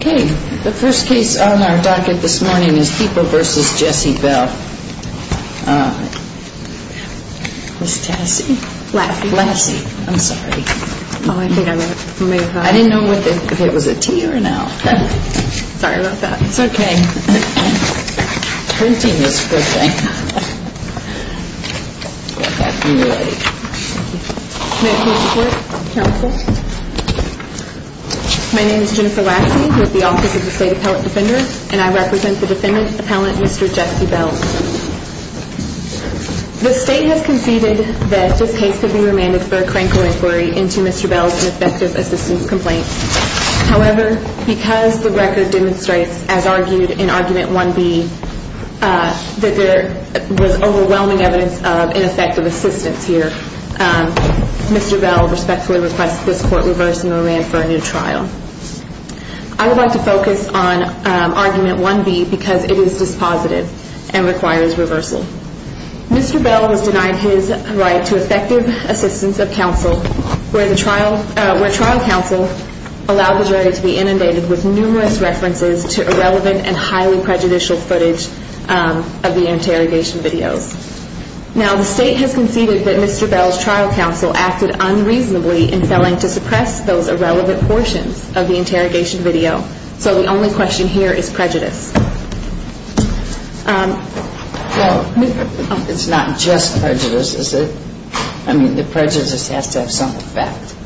Okay. The first case on our docket this morning is Heeple v. Jesse Bell. Ms. Tassie? Lassie. Lassie. I'm sorry. I didn't know if it was a T or an L. Sorry about that. It's okay. Printing is a good thing. Go ahead. You're ready. May I please report, counsel? My name is Jennifer Lassie with the Office of the State Appellant Defender, and I represent the defendant's appellant, Mr. Jesse Bell. The state has conceded that this case could be remanded for a crank or inquiry into Mr. Bell's ineffective assistance complaint. However, because the record demonstrates, as argued in Argument 1B, that there was overwhelming evidence of ineffective assistance here, Mr. Bell respectfully requests this court reverse the remand for a new trial. I would like to focus on Argument 1B because it is dispositive and requires reversal. Mr. Bell was denied his right to effective assistance of counsel, where trial counsel allowed the jury to be inundated with numerous references to irrelevant and highly prejudicial footage of the interrogation videos. Now, the state has conceded that Mr. Bell's trial counsel acted unreasonably in failing to suppress those irrelevant portions of the interrogation video, so the only question here is prejudice. Well, it's not just prejudice, is it? I mean, the prejudice has to have some effect.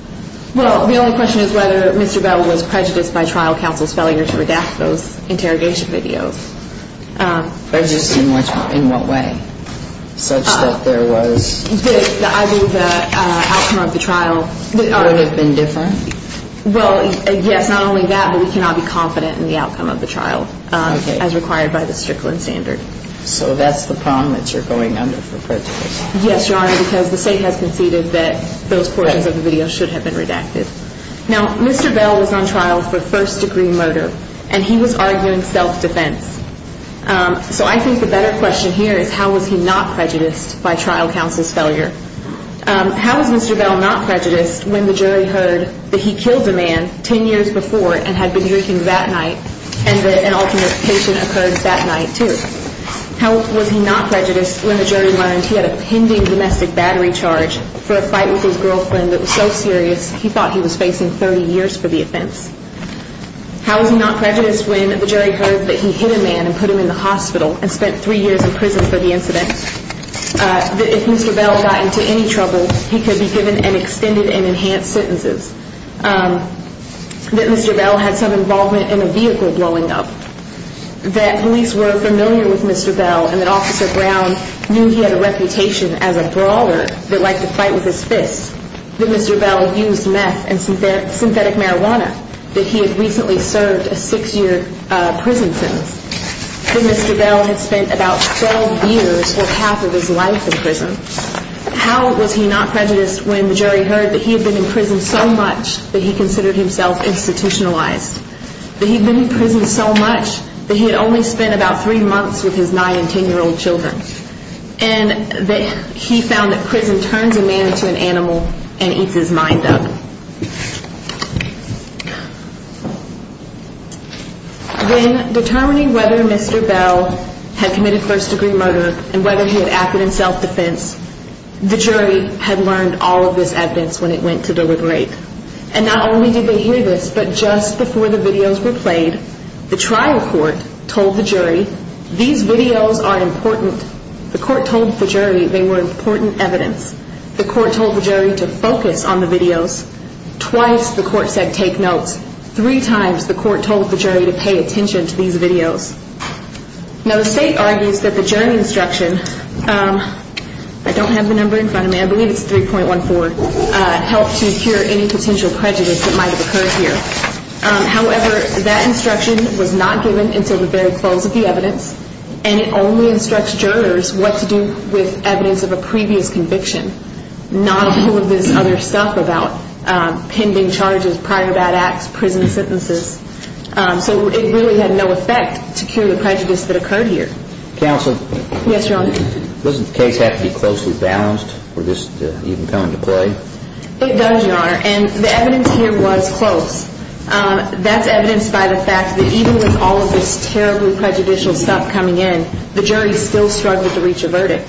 Well, the only question is whether Mr. Bell was prejudiced by trial counsel's failure to redact those interrogation videos. Prejudice in what way, such that there was? The outcome of the trial. Would it have been different? Well, yes, not only that, but we cannot be confident in the outcome of the trial as required by the Strickland standard. So that's the problem that you're going under for prejudice? Yes, Your Honor, because the state has conceded that those portions of the video should have been redacted. Now, Mr. Bell was on trial for first-degree murder, and he was arguing self-defense. So I think the better question here is how was he not prejudiced by trial counsel's failure? How was Mr. Bell not prejudiced when the jury heard that he killed a man 10 years before and had been drinking that night and that an alternate patient occurred that night, too? How was he not prejudiced when the jury learned he had a pending domestic battery charge for a fight with his girlfriend that was so serious he thought he was facing 30 years for the offense? How was he not prejudiced when the jury heard that he hit a man and put him in the hospital and spent three years in prison for the incident? That if Mr. Bell got into any trouble, he could be given an extended and enhanced sentences? That Mr. Bell had some involvement in a vehicle blowing up? That police were familiar with Mr. Bell and that Officer Brown knew he had a reputation as a brawler that liked to fight with his fists? That Mr. Bell used meth and synthetic marijuana? That he had recently served a six-year prison sentence? That Mr. Bell had spent about 12 years or half of his life in prison? How was he not prejudiced when the jury heard that he had been in prison so much that he considered himself institutionalized? That he had been in prison so much that he had only spent about three months with his nine- and ten-year-old children? And that he found that prison turns a man into an animal and eats his mind up? When determining whether Mr. Bell had committed first-degree murder and whether he had acted in self-defense, the jury had learned all of this evidence when it went to the right. And not only did they hear this, but just before the videos were played, the trial court told the jury these videos are important. The court told the jury they were important evidence. The court told the jury to focus on the videos. Twice the court said take notes. Three times the court told the jury to pay attention to these videos. Now the state argues that the jury instruction, I don't have the number in front of me, I believe it's 3.14, helped to cure any potential prejudice that might have occurred here. However, that instruction was not given until the very close of the evidence, and it only instructs jurors what to do with evidence of a previous conviction, not all of this other stuff about pending charges, prior bad acts, prison sentences. So it really had no effect to cure the prejudice that occurred here. Counsel? Yes, Your Honor. Doesn't the case have to be closely balanced for this to even come into play? It does, Your Honor, and the evidence here was close. That's evidenced by the fact that even with all of this terribly prejudicial stuff coming in, the jury still struggled to reach a verdict.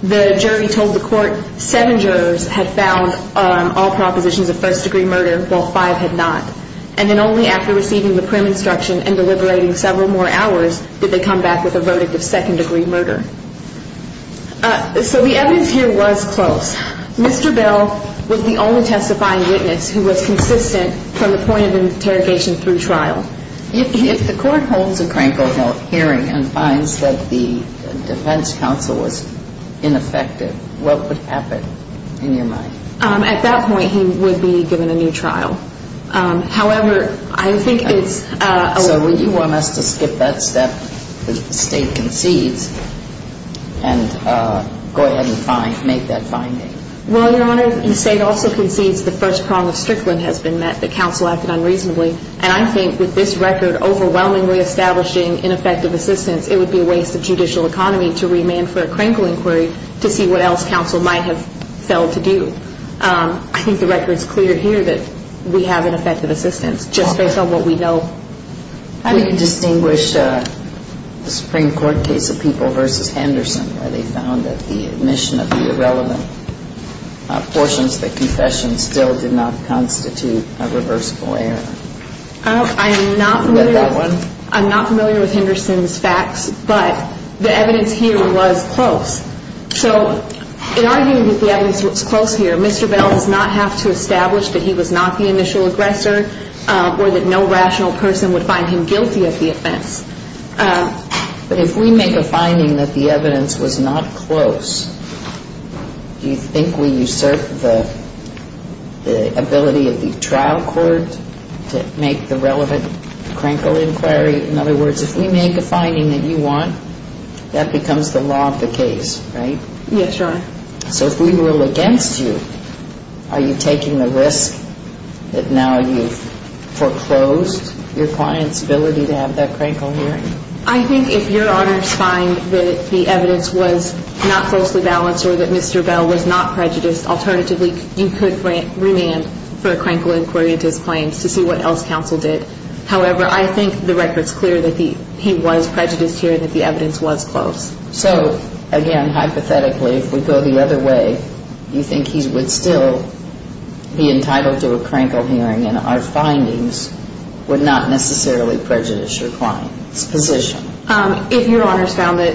The jury told the court seven jurors had found all propositions of first-degree murder, while five had not, and then only after receiving the prim instruction and deliberating several more hours did they come back with a verdict of second-degree murder. So the evidence here was close. Mr. Bell was the only testifying witness who was consistent from the point of interrogation through trial. If the court holds a Kranko hearing and finds that the defense counsel was ineffective, what would happen in your mind? At that point, he would be given a new trial. However, I think it's a little bit... So would you want us to skip that step that the State concedes and go ahead and make that finding? Well, Your Honor, the State also concedes the first prong of Strickland has been met, that counsel acted unreasonably. And I think with this record overwhelmingly establishing ineffective assistance, it would be a waste of judicial economy to remand for a Kranko inquiry to see what else counsel might have failed to do. I think the record is clear here that we have ineffective assistance just based on what we know. How do you distinguish the Supreme Court case of People v. Henderson where they found that the admission of the irrelevant portions of the confession still did not constitute a reversible error? I'm not familiar with Henderson's facts, but the evidence here was close. So in arguing that the evidence was close here, Mr. Bell does not have to establish that he was not the initial aggressor or that no rational person would find him guilty of the offense. But if we make a finding that the evidence was not close, do you think we usurp the ability of the trial court to make the relevant Kranko inquiry? In other words, if we make a finding that you want, that becomes the law of the case, right? Yes, Your Honor. So if we rule against you, are you taking the risk that now you've foreclosed your client's ability to have that Kranko inquiry? I think if Your Honor's find that the evidence was not closely balanced or that Mr. Bell was not prejudiced, alternatively you could remand for a Kranko inquiry into his claims to see what else counsel did. However, I think the record's clear that he was prejudiced here, that the evidence was close. So again, hypothetically, if we go the other way, you think he would still be entitled to a Kranko hearing and our findings would not necessarily prejudice your client's position? If Your Honor's found that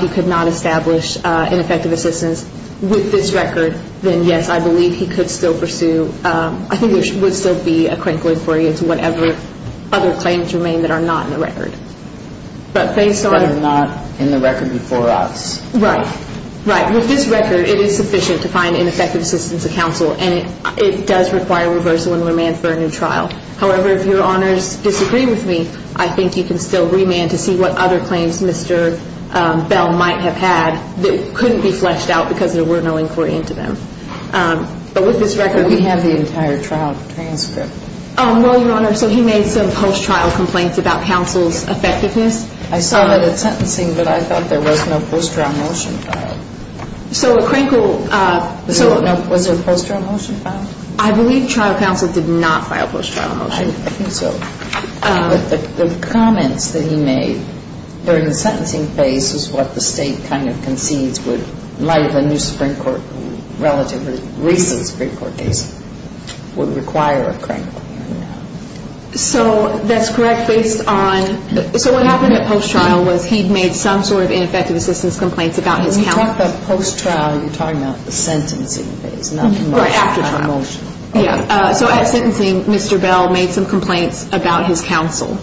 he could not establish ineffective assistance with this record, then yes, I believe he could still pursue, I think there would still be a Kranko inquiry into whatever other claims remain that are not in the record. But are not in the record before us. Right, right. With this record, it is sufficient to find ineffective assistance to counsel, and it does require reversal and remand for a new trial. However, if Your Honor's disagree with me, I think you can still remand to see what other claims Mr. Bell might have had that couldn't be fleshed out because there were no inquiry into them. But with this record, we have the entire trial transcript. Well, Your Honor, so he made some post-trial complaints about counsel's effectiveness. I saw that at sentencing, but I thought there was no post-trial motion filed. Was there a post-trial motion filed? I believe trial counsel did not file a post-trial motion. I think so. But the comments that he made during the sentencing phase was what the State kind of concedes would, in light of a new Supreme Court relative or recent Supreme Court case, would require a Kranko. So that's correct based on, so what happened at post-trial was he made some sort of effective assistance complaints about his counsel. When you talk about post-trial, you're talking about the sentencing phase, not the motion. Or after trial. Yeah. So at sentencing, Mr. Bell made some complaints about his counsel.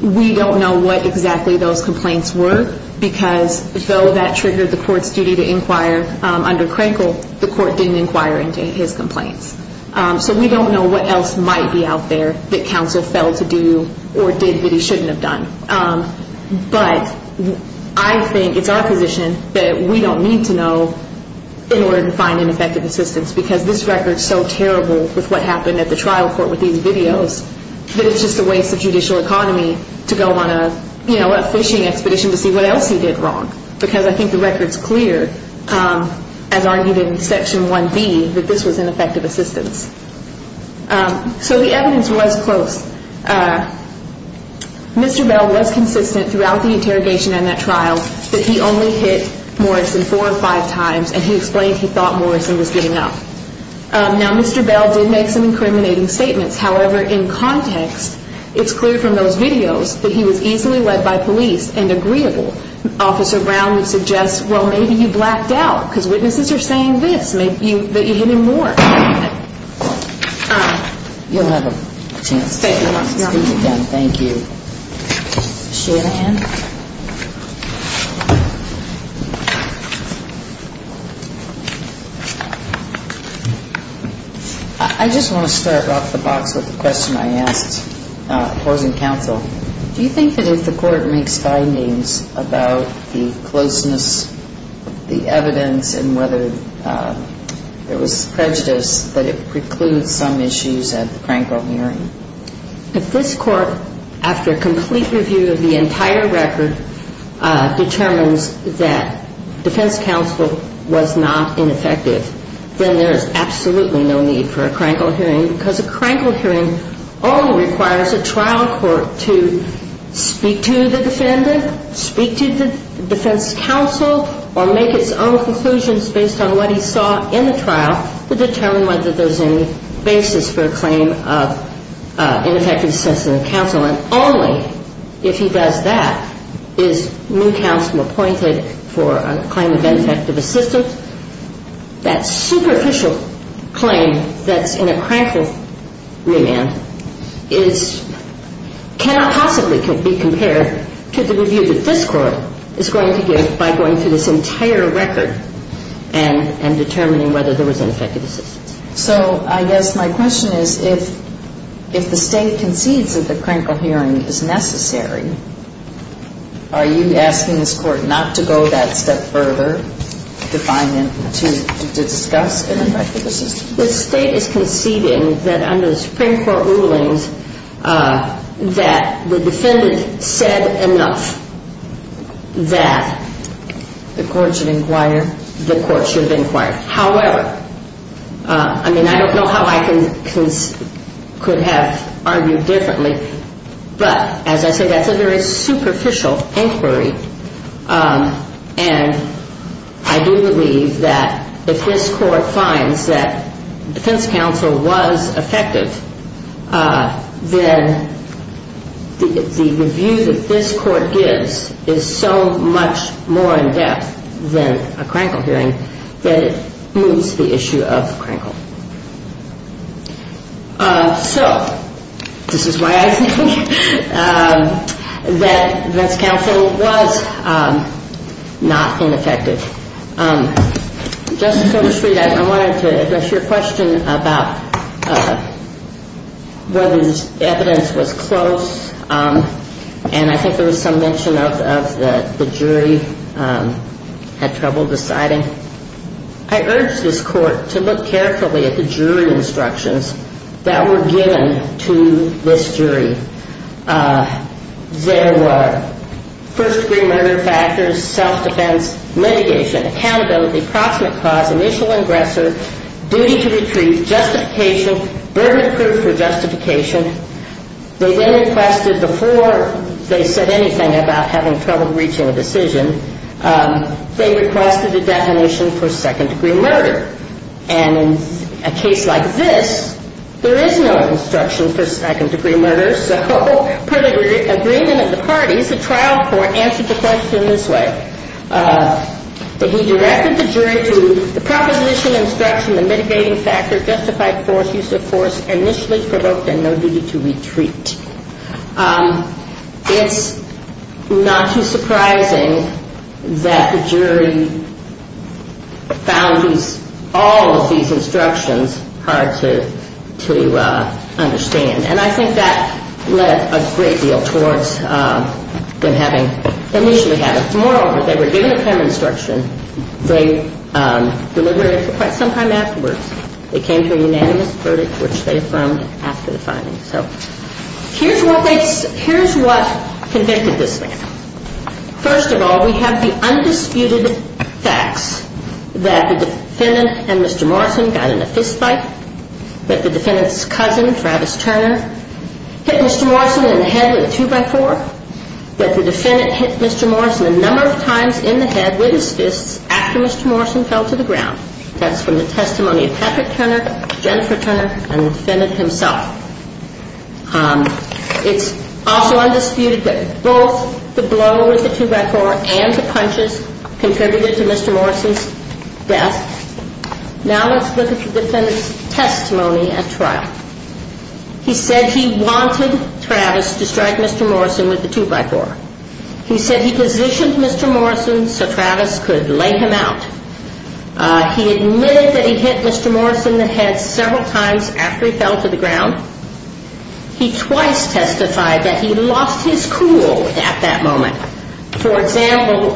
We don't know what exactly those complaints were because, though that triggered the court's duty to inquire under Kranko, the court didn't inquire into his complaints. So we don't know what else might be out there that counsel failed to do or did that he shouldn't have done. But I think it's our position that we don't need to know in order to find ineffective assistance because this record's so terrible with what happened at the trial court with these videos that it's just a waste of judicial economy to go on a fishing expedition to see what else he did wrong. Because I think the record's clear, as argued in Section 1B, that this was ineffective assistance. So the evidence was close. Mr. Bell was consistent throughout the interrogation and that trial that he only hit Morrison four or five times, and he explained he thought Morrison was getting up. Now, Mr. Bell did make some incriminating statements. However, in context, it's clear from those videos that he was easily led by police and agreeable. Officer Brown would suggest, well, maybe you blacked out because witnesses are saying this. Maybe you hit him more. You'll have a chance to speak again. Thank you. Is she going to hand? I just want to start off the box with a question I asked opposing counsel. Do you think that if the court makes findings about the closeness of the evidence and whether it was prejudiced that it precludes some issues at the Krankel hearing? If this court, after a complete review of the entire record, determines that defense counsel was not ineffective, then there is absolutely no need for a Krankel hearing because a Krankel hearing only requires a trial court to speak to the defendant, speak to the defense counsel, or make its own conclusions based on what he saw in the trial to determine whether there's any basis for a claim of ineffective assessment of counsel. And only if he does that is new counsel appointed for a claim of ineffective assistance. That superficial claim that's in a Krankel remand cannot possibly be compared to the review that this court is going to give by going through this entire record and determining whether there was ineffective assistance. So I guess my question is if the State concedes that the Krankel hearing is necessary, are you asking this Court not to go that step further, to find and to discuss ineffective assistance? The State is conceding that under the Supreme Court rulings that the defendant said enough that the Court should inquire. However, I mean, I don't know how I could have argued differently, but as I said, that's a very superficial inquiry. And I do believe that if this Court finds that defense counsel was effective, then the review that this Court gives is so much more in-depth than a Krankel hearing that it moves the issue of Krankel. So this is why I think that defense counsel was not ineffective. Justice Sotomayor, I wanted to address your question about whether this evidence was close, and I think there was some mention of the jury had trouble deciding. I urge this Court to look carefully at the jury instructions that were given to this jury. There were first-degree murder factors, self-defense, litigation, accountability, proximate cause, initial aggressor, duty to retreat, justification, verdict proof for justification. They then requested before they said anything about having trouble reaching a decision, they requested a definition for second-degree murder. And in a case like this, there is no instruction for second-degree murder, so per the agreement of the parties, the trial court answered the question this way. That he directed the jury to the proposition, instruction, and mitigating factor, justified force, use of force, initially provoked, and no duty to retreat. It's not too surprising that the jury found all of these instructions hard to understand. And I think that led a great deal towards them having, initially having, moreover, they were given a pen instruction. They delivered it for quite some time afterwards. They came to a unanimous verdict, which they affirmed after the finding. So here's what they, here's what convicted this man. First of all, we have the undisputed facts that the defendant and Mr. Morrison got in a fist fight, that the defendant's cousin, Travis Turner, hit Mr. Morrison in the head with a two-by-four, that the defendant hit Mr. Morrison a number of times in the head with his fists after Mr. Morrison fell to the ground. That's from the testimony of Patrick Turner, Jennifer Turner, and the defendant himself. It's also undisputed that both the blow with the two-by-four and the punches contributed to Mr. Morrison's death. Now let's look at the defendant's testimony at trial. He said he wanted Travis to strike Mr. Morrison with a two-by-four. He said he positioned Mr. Morrison so Travis could lay him out. He admitted that he hit Mr. Morrison in the head several times after he fell to the ground. He twice testified that he lost his cool at that moment. For example,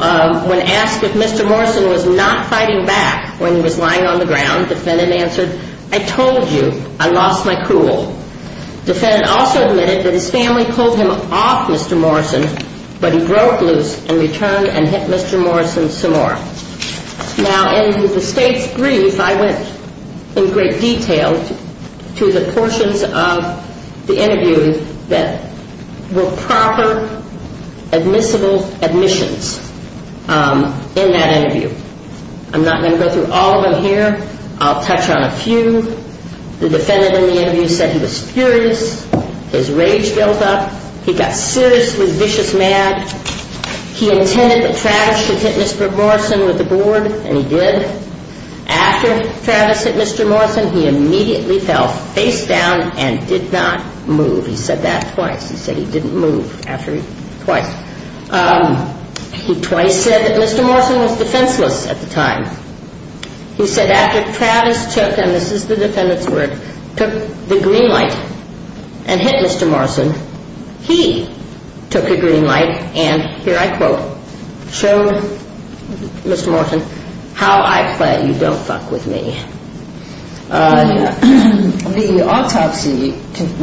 when asked if Mr. Morrison was not fighting back when he was lying on the ground, the defendant answered, I told you, I lost my cool. The defendant also admitted that his family pulled him off Mr. Morrison, but he broke loose and returned and hit Mr. Morrison some more. Now in the state's brief, I went in great detail to the portions of the interview that were proper admissible admissions in that interview. I'm not going to go through all of them here. I'll touch on a few. The defendant in the interview said he was furious. His rage built up. He got seriously vicious mad. He intended that Travis should hit Mr. Morrison with the board, and he did. After Travis hit Mr. Morrison, he immediately fell face down and did not move. He said that twice. He said he didn't move after twice. He twice said that Mr. Morrison was defenseless at the time. He said after Travis took, and this is the defendant's word, took the green light and hit Mr. Morrison, he took the green light and, here I quote, showed Mr. Morrison how I play you don't fuck with me. The autopsy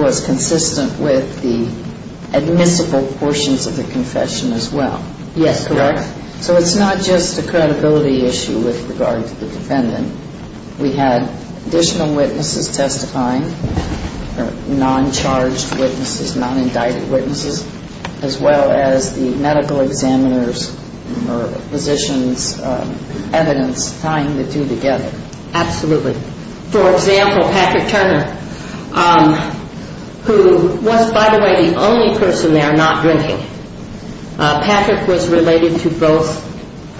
was consistent with the admissible portions of the confession as well. Yes, correct. So it's not just a credibility issue with regard to the defendant. We had additional witnesses testifying, non-charged witnesses, non-indicted witnesses, as well as the medical examiners or physicians' evidence tying the two together. Absolutely. For example, Patrick Turner, who was, by the way, the only person there not drinking. Patrick was related to both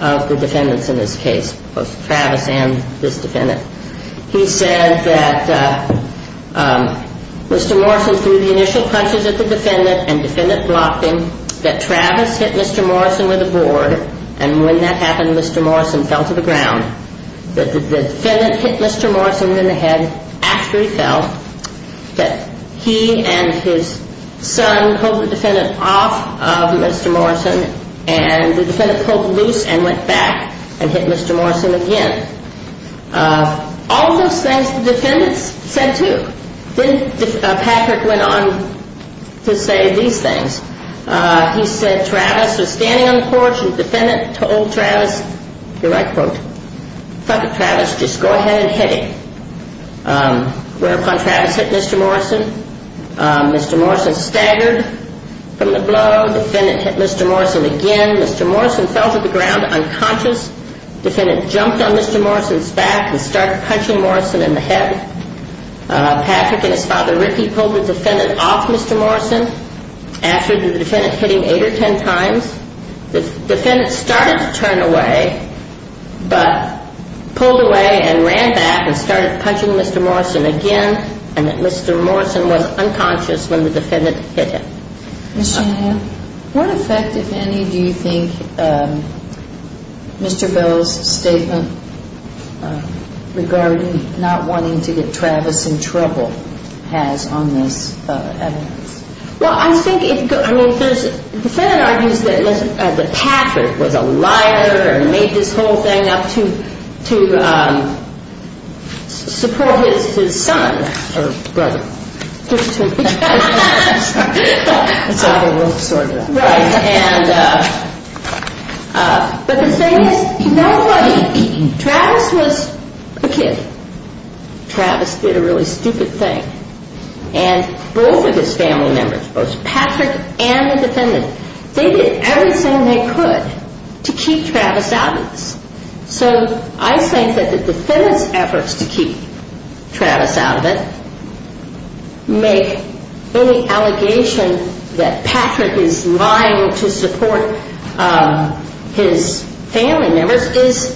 of the defendants in this case, both Travis and this defendant. He said that Mr. Morrison threw the initial punches at the defendant and defendant blocked him, that Travis hit Mr. Morrison with a board, and when that happened, Mr. Morrison fell to the ground, that the defendant hit Mr. Morrison in the head after he fell, that he and his son pulled the defendant off of Mr. Morrison and the defendant pulled loose and went back and hit Mr. Morrison again. All of those things the defendants said too. Then Patrick went on to say these things. He said Travis was standing on the porch and the defendant told Travis, here I quote, Fuck it, Travis, just go ahead and hit him. Whereupon Travis hit Mr. Morrison. Mr. Morrison staggered from the blow. Defendant hit Mr. Morrison again. Mr. Morrison fell to the ground unconscious. Defendant jumped on Mr. Morrison's back and started punching Morrison in the head. Patrick and his father Ricky pulled the defendant off Mr. Morrison after the defendant hit him eight or ten times. The defendant started to turn away but pulled away and ran back and started punching Mr. Morrison again and that Mr. Morrison was unconscious when the defendant hit him. Ms. Shanahan, what effect, if any, do you think Mr. Bell's statement regarding not wanting to get Travis in trouble has on this evidence? Well, I think, I mean, the defendant argues that Patrick was a liar and made this whole thing up to support his son, or brother. But the thing is, Travis was a kid. Travis did a really stupid thing. And both of his family members, both Patrick and the defendant, they did everything they could to keep Travis out of this. So I think that the defendant's efforts to keep Travis out of it make any allegation that Patrick is lying to support his family members is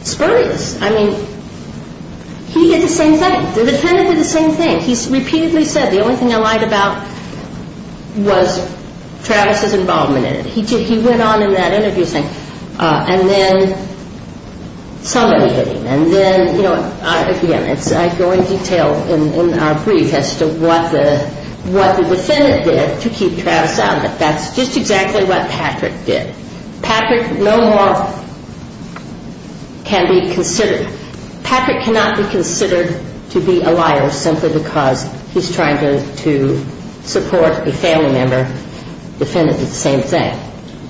spurious. I mean, he did the same thing. The defendant did the same thing. He repeatedly said the only thing I lied about was Travis' involvement in it. He went on in that interview saying, and then somebody hit him. And then, you know, again, I go in detail in our brief as to what the defendant did to keep Travis out of it. That's just exactly what Patrick did. Patrick no more can be considered. Patrick cannot be considered to be a liar simply because he's trying to support a family member. The defendant did the same thing.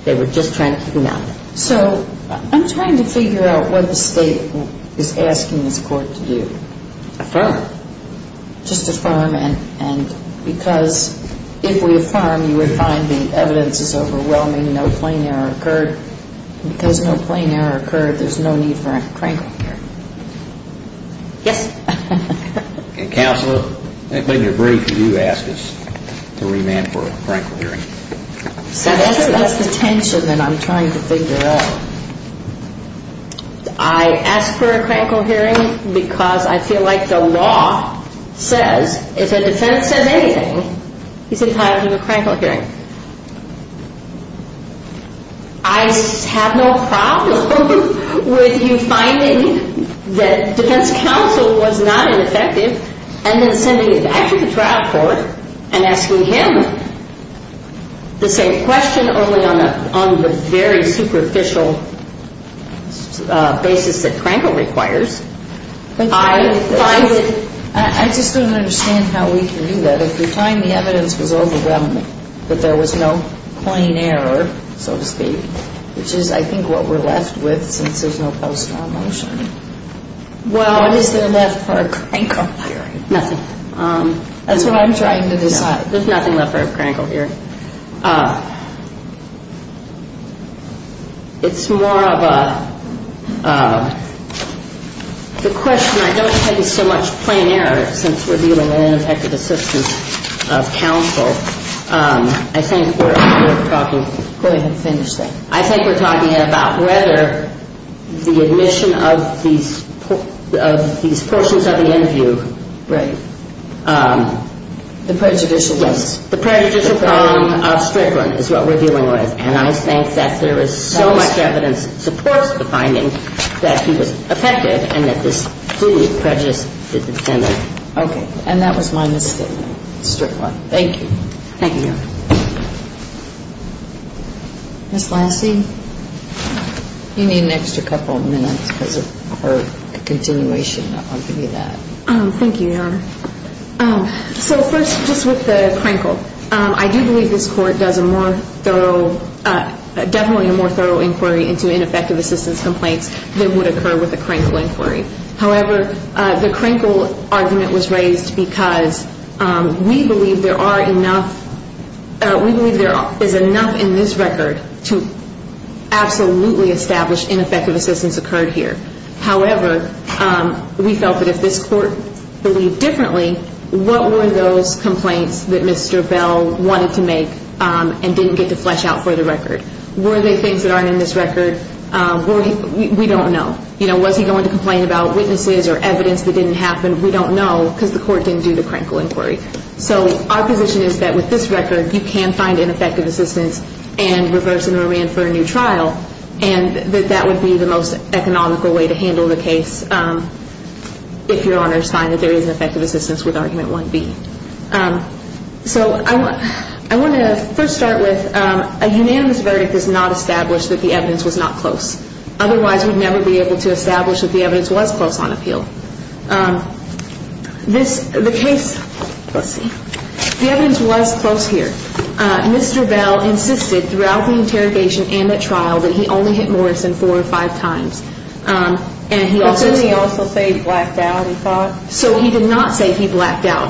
They were just trying to keep him out. So I'm trying to figure out what the State is asking this Court to do. Affirm. Just affirm. And because if we affirm, you would find the evidence is overwhelming, no plain error occurred. Because no plain error occurred, there's no need for a crankle hearing. Yes. Counselor, in your brief, you asked us to remand for a crankle hearing. That's the tension that I'm trying to figure out. I asked for a crankle hearing because I feel like the law says if a defendant says anything, he's entitled to a crankle hearing. I have no problem with you finding that defense counsel was not ineffective and then sending it back to the trial court and asking him the same question only on the very superficial basis that crankle requires. I just don't understand how we can do that. So if you find the evidence was overwhelming, that there was no plain error, so to speak, which is, I think, what we're left with since there's no post-law motion. Well, what is there left for a crankle hearing? Nothing. That's what I'm trying to decide. There's nothing left for a crankle hearing. It's more of a question. I don't think it's so much plain error since we're dealing with ineffective assistance of counsel. I think we're talking. Go ahead and finish that. I think we're talking about whether the admission of these portions of the interview. Right. The prejudicial list. The prejudicial column of Strickland is what we're dealing with, and I think that there is so much evidence that supports the finding that he was effective and that this plea prejudiced the defendant. Okay. And that was my misstatement, Strickland. Thank you. Thank you, Your Honor. Ms. Lassie, you need an extra couple of minutes because of her continuation. I'll give you that. Thank you, Your Honor. So first, just with the crankle, I do believe this Court does a more thorough, definitely a more thorough inquiry into ineffective assistance complaints than would occur with a crankle inquiry. However, the crankle argument was raised because we believe there are enough, we believe there is enough in this record to absolutely establish ineffective assistance occurred here. However, we felt that if this Court believed differently, what were those complaints that Mr. Bell wanted to make and didn't get to flesh out for the record? Were they things that aren't in this record? We don't know. You know, was he going to complain about witnesses or evidence that didn't happen? We don't know because the Court didn't do the crankle inquiry. So our position is that with this record, you can find ineffective assistance and reverse and re-infer a new trial, and that that would be the most economical way to handle the case if Your Honor's find that there is an effective assistance with Argument 1B. So I want to first start with a unanimous verdict is not established that the evidence was not close. Otherwise, we'd never be able to establish that the evidence was close on appeal. This, the case, let's see, the evidence was close here. Mr. Bell insisted throughout the interrogation and that trial that he only hit Morrison four or five times. But didn't he also say he blacked out, he thought? So he did not say he blacked out.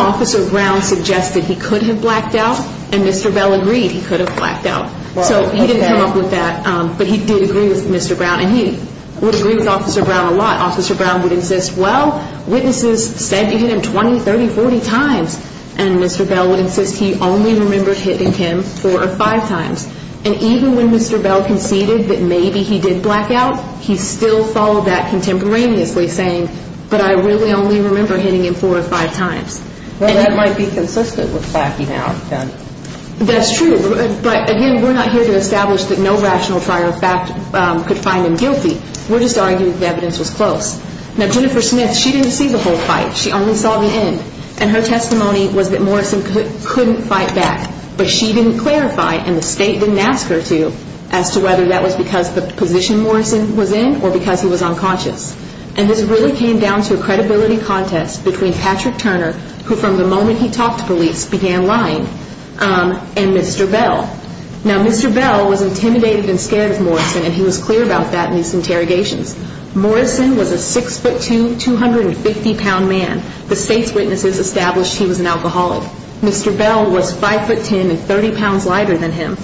Officer Brown suggested he could have blacked out, and Mr. Bell agreed he could have blacked out. So he didn't come up with that. But he did agree with Mr. Brown, and he would agree with Officer Brown a lot. Officer Brown would insist, well, witnesses said they hit him 20, 30, 40 times, and Mr. Bell would insist he only remembered hitting him four or five times. And even when Mr. Bell conceded that maybe he did black out, he still followed that contemporaneously, saying, but I really only remember hitting him four or five times. Well, that might be consistent with blacking out, then. That's true. But, again, we're not here to establish that no rational trial could find him guilty. We're just arguing the evidence was close. Now, Jennifer Smith, she didn't see the whole fight. She only saw the end. And her testimony was that Morrison couldn't fight back. But she didn't clarify, and the state didn't ask her to, as to whether that was because the position Morrison was in or because he was unconscious. And this really came down to a credibility contest between Patrick Turner, who from the moment he talked to police began lying, and Mr. Bell. Now, Mr. Bell was intimidated and scared of Morrison, and he was clear about that in these interrogations. Morrison was a 6'2", 250-pound man. The state's witnesses established he was an alcoholic. Mr. Bell was 5'10", and 30 pounds lighter than him.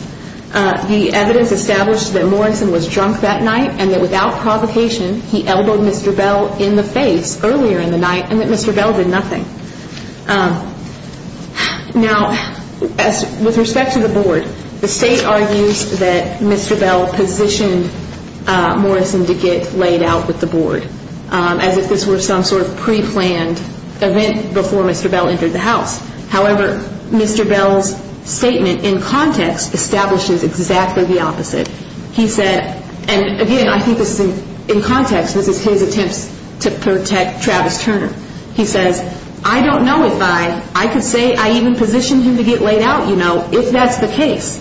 The evidence established that Morrison was drunk that night, and that without provocation he elbowed Mr. Bell in the face earlier in the night, and that Mr. Bell did nothing. Now, with respect to the board, the state argues that Mr. Bell positioned Morrison to get laid out with the board, as if this were some sort of preplanned event before Mr. Bell entered the house. However, Mr. Bell's statement in context establishes exactly the opposite. He said, and again, I think this is in context, this is his attempts to protect Travis Turner. He says, I don't know if I, I could say I even positioned him to get laid out, you know, if that's the case.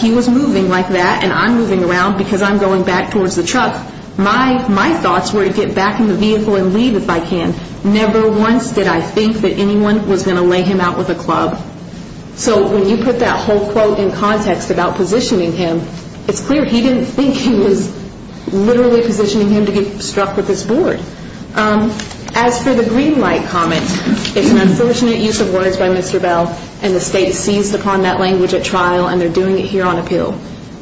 He was moving like that, and I'm moving around because I'm going back towards the truck. My thoughts were to get back in the vehicle and leave if I can. Never once did I think that anyone was going to lay him out with a club. So when you put that whole quote in context about positioning him, it's clear he didn't think he was literally positioning him to get struck with this board. As for the green light comment, it's an unfortunate use of words by Mr. Bell, and the state seized upon that language at trial, and they're doing it here on appeal.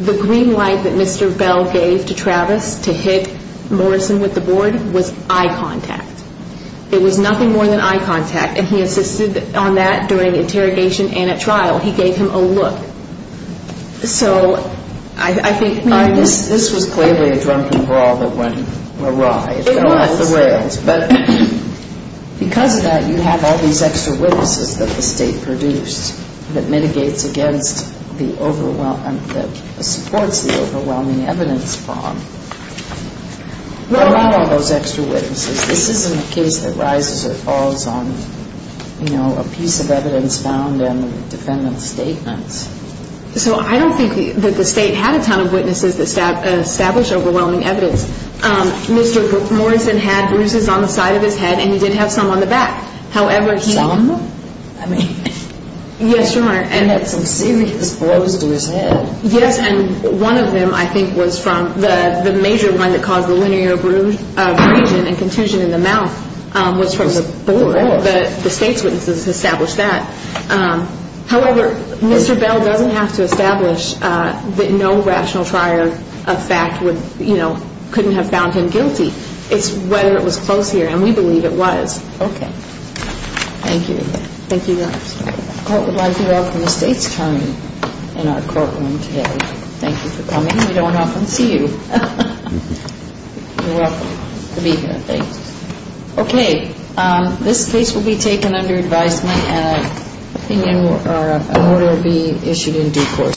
The green light that Mr. Bell gave to Travis to hit Morrison with the board was eye contact. It was nothing more than eye contact, and he insisted on that during interrogation and at trial. He gave him a look. So I think, I mean, this was clearly a drunken brawl that went awry. It fell off the rails. But because of that, you have all these extra witnesses that the state produced that mitigates against the overwhelming, that supports the overwhelming evidence fraud. What about all those extra witnesses? This isn't a case that rises or falls on, you know, a piece of evidence found in the defendant's statements. So I don't think that the state had a ton of witnesses that established overwhelming evidence. Mr. Morrison had bruises on the side of his head, and he did have some on the back. Some? Yes, Your Honor. He had some serious blows to his head. Yes, and one of them I think was from the major one that caused the linear abrasion and contusion in the mouth was from the board. The state's witnesses established that. However, Mr. Bell doesn't have to establish that no rational trier of fact, you know, couldn't have found him guilty. It's whether it was close here, and we believe it was. Okay. Thank you. Thank you, Your Honor. The court would like to welcome the state's attorney in our courtroom today. Thank you for coming. We don't often see you. You're welcome. Good evening. Thanks. Okay. This case will be taken under advisement, and an opinion or an order will be issued in due course.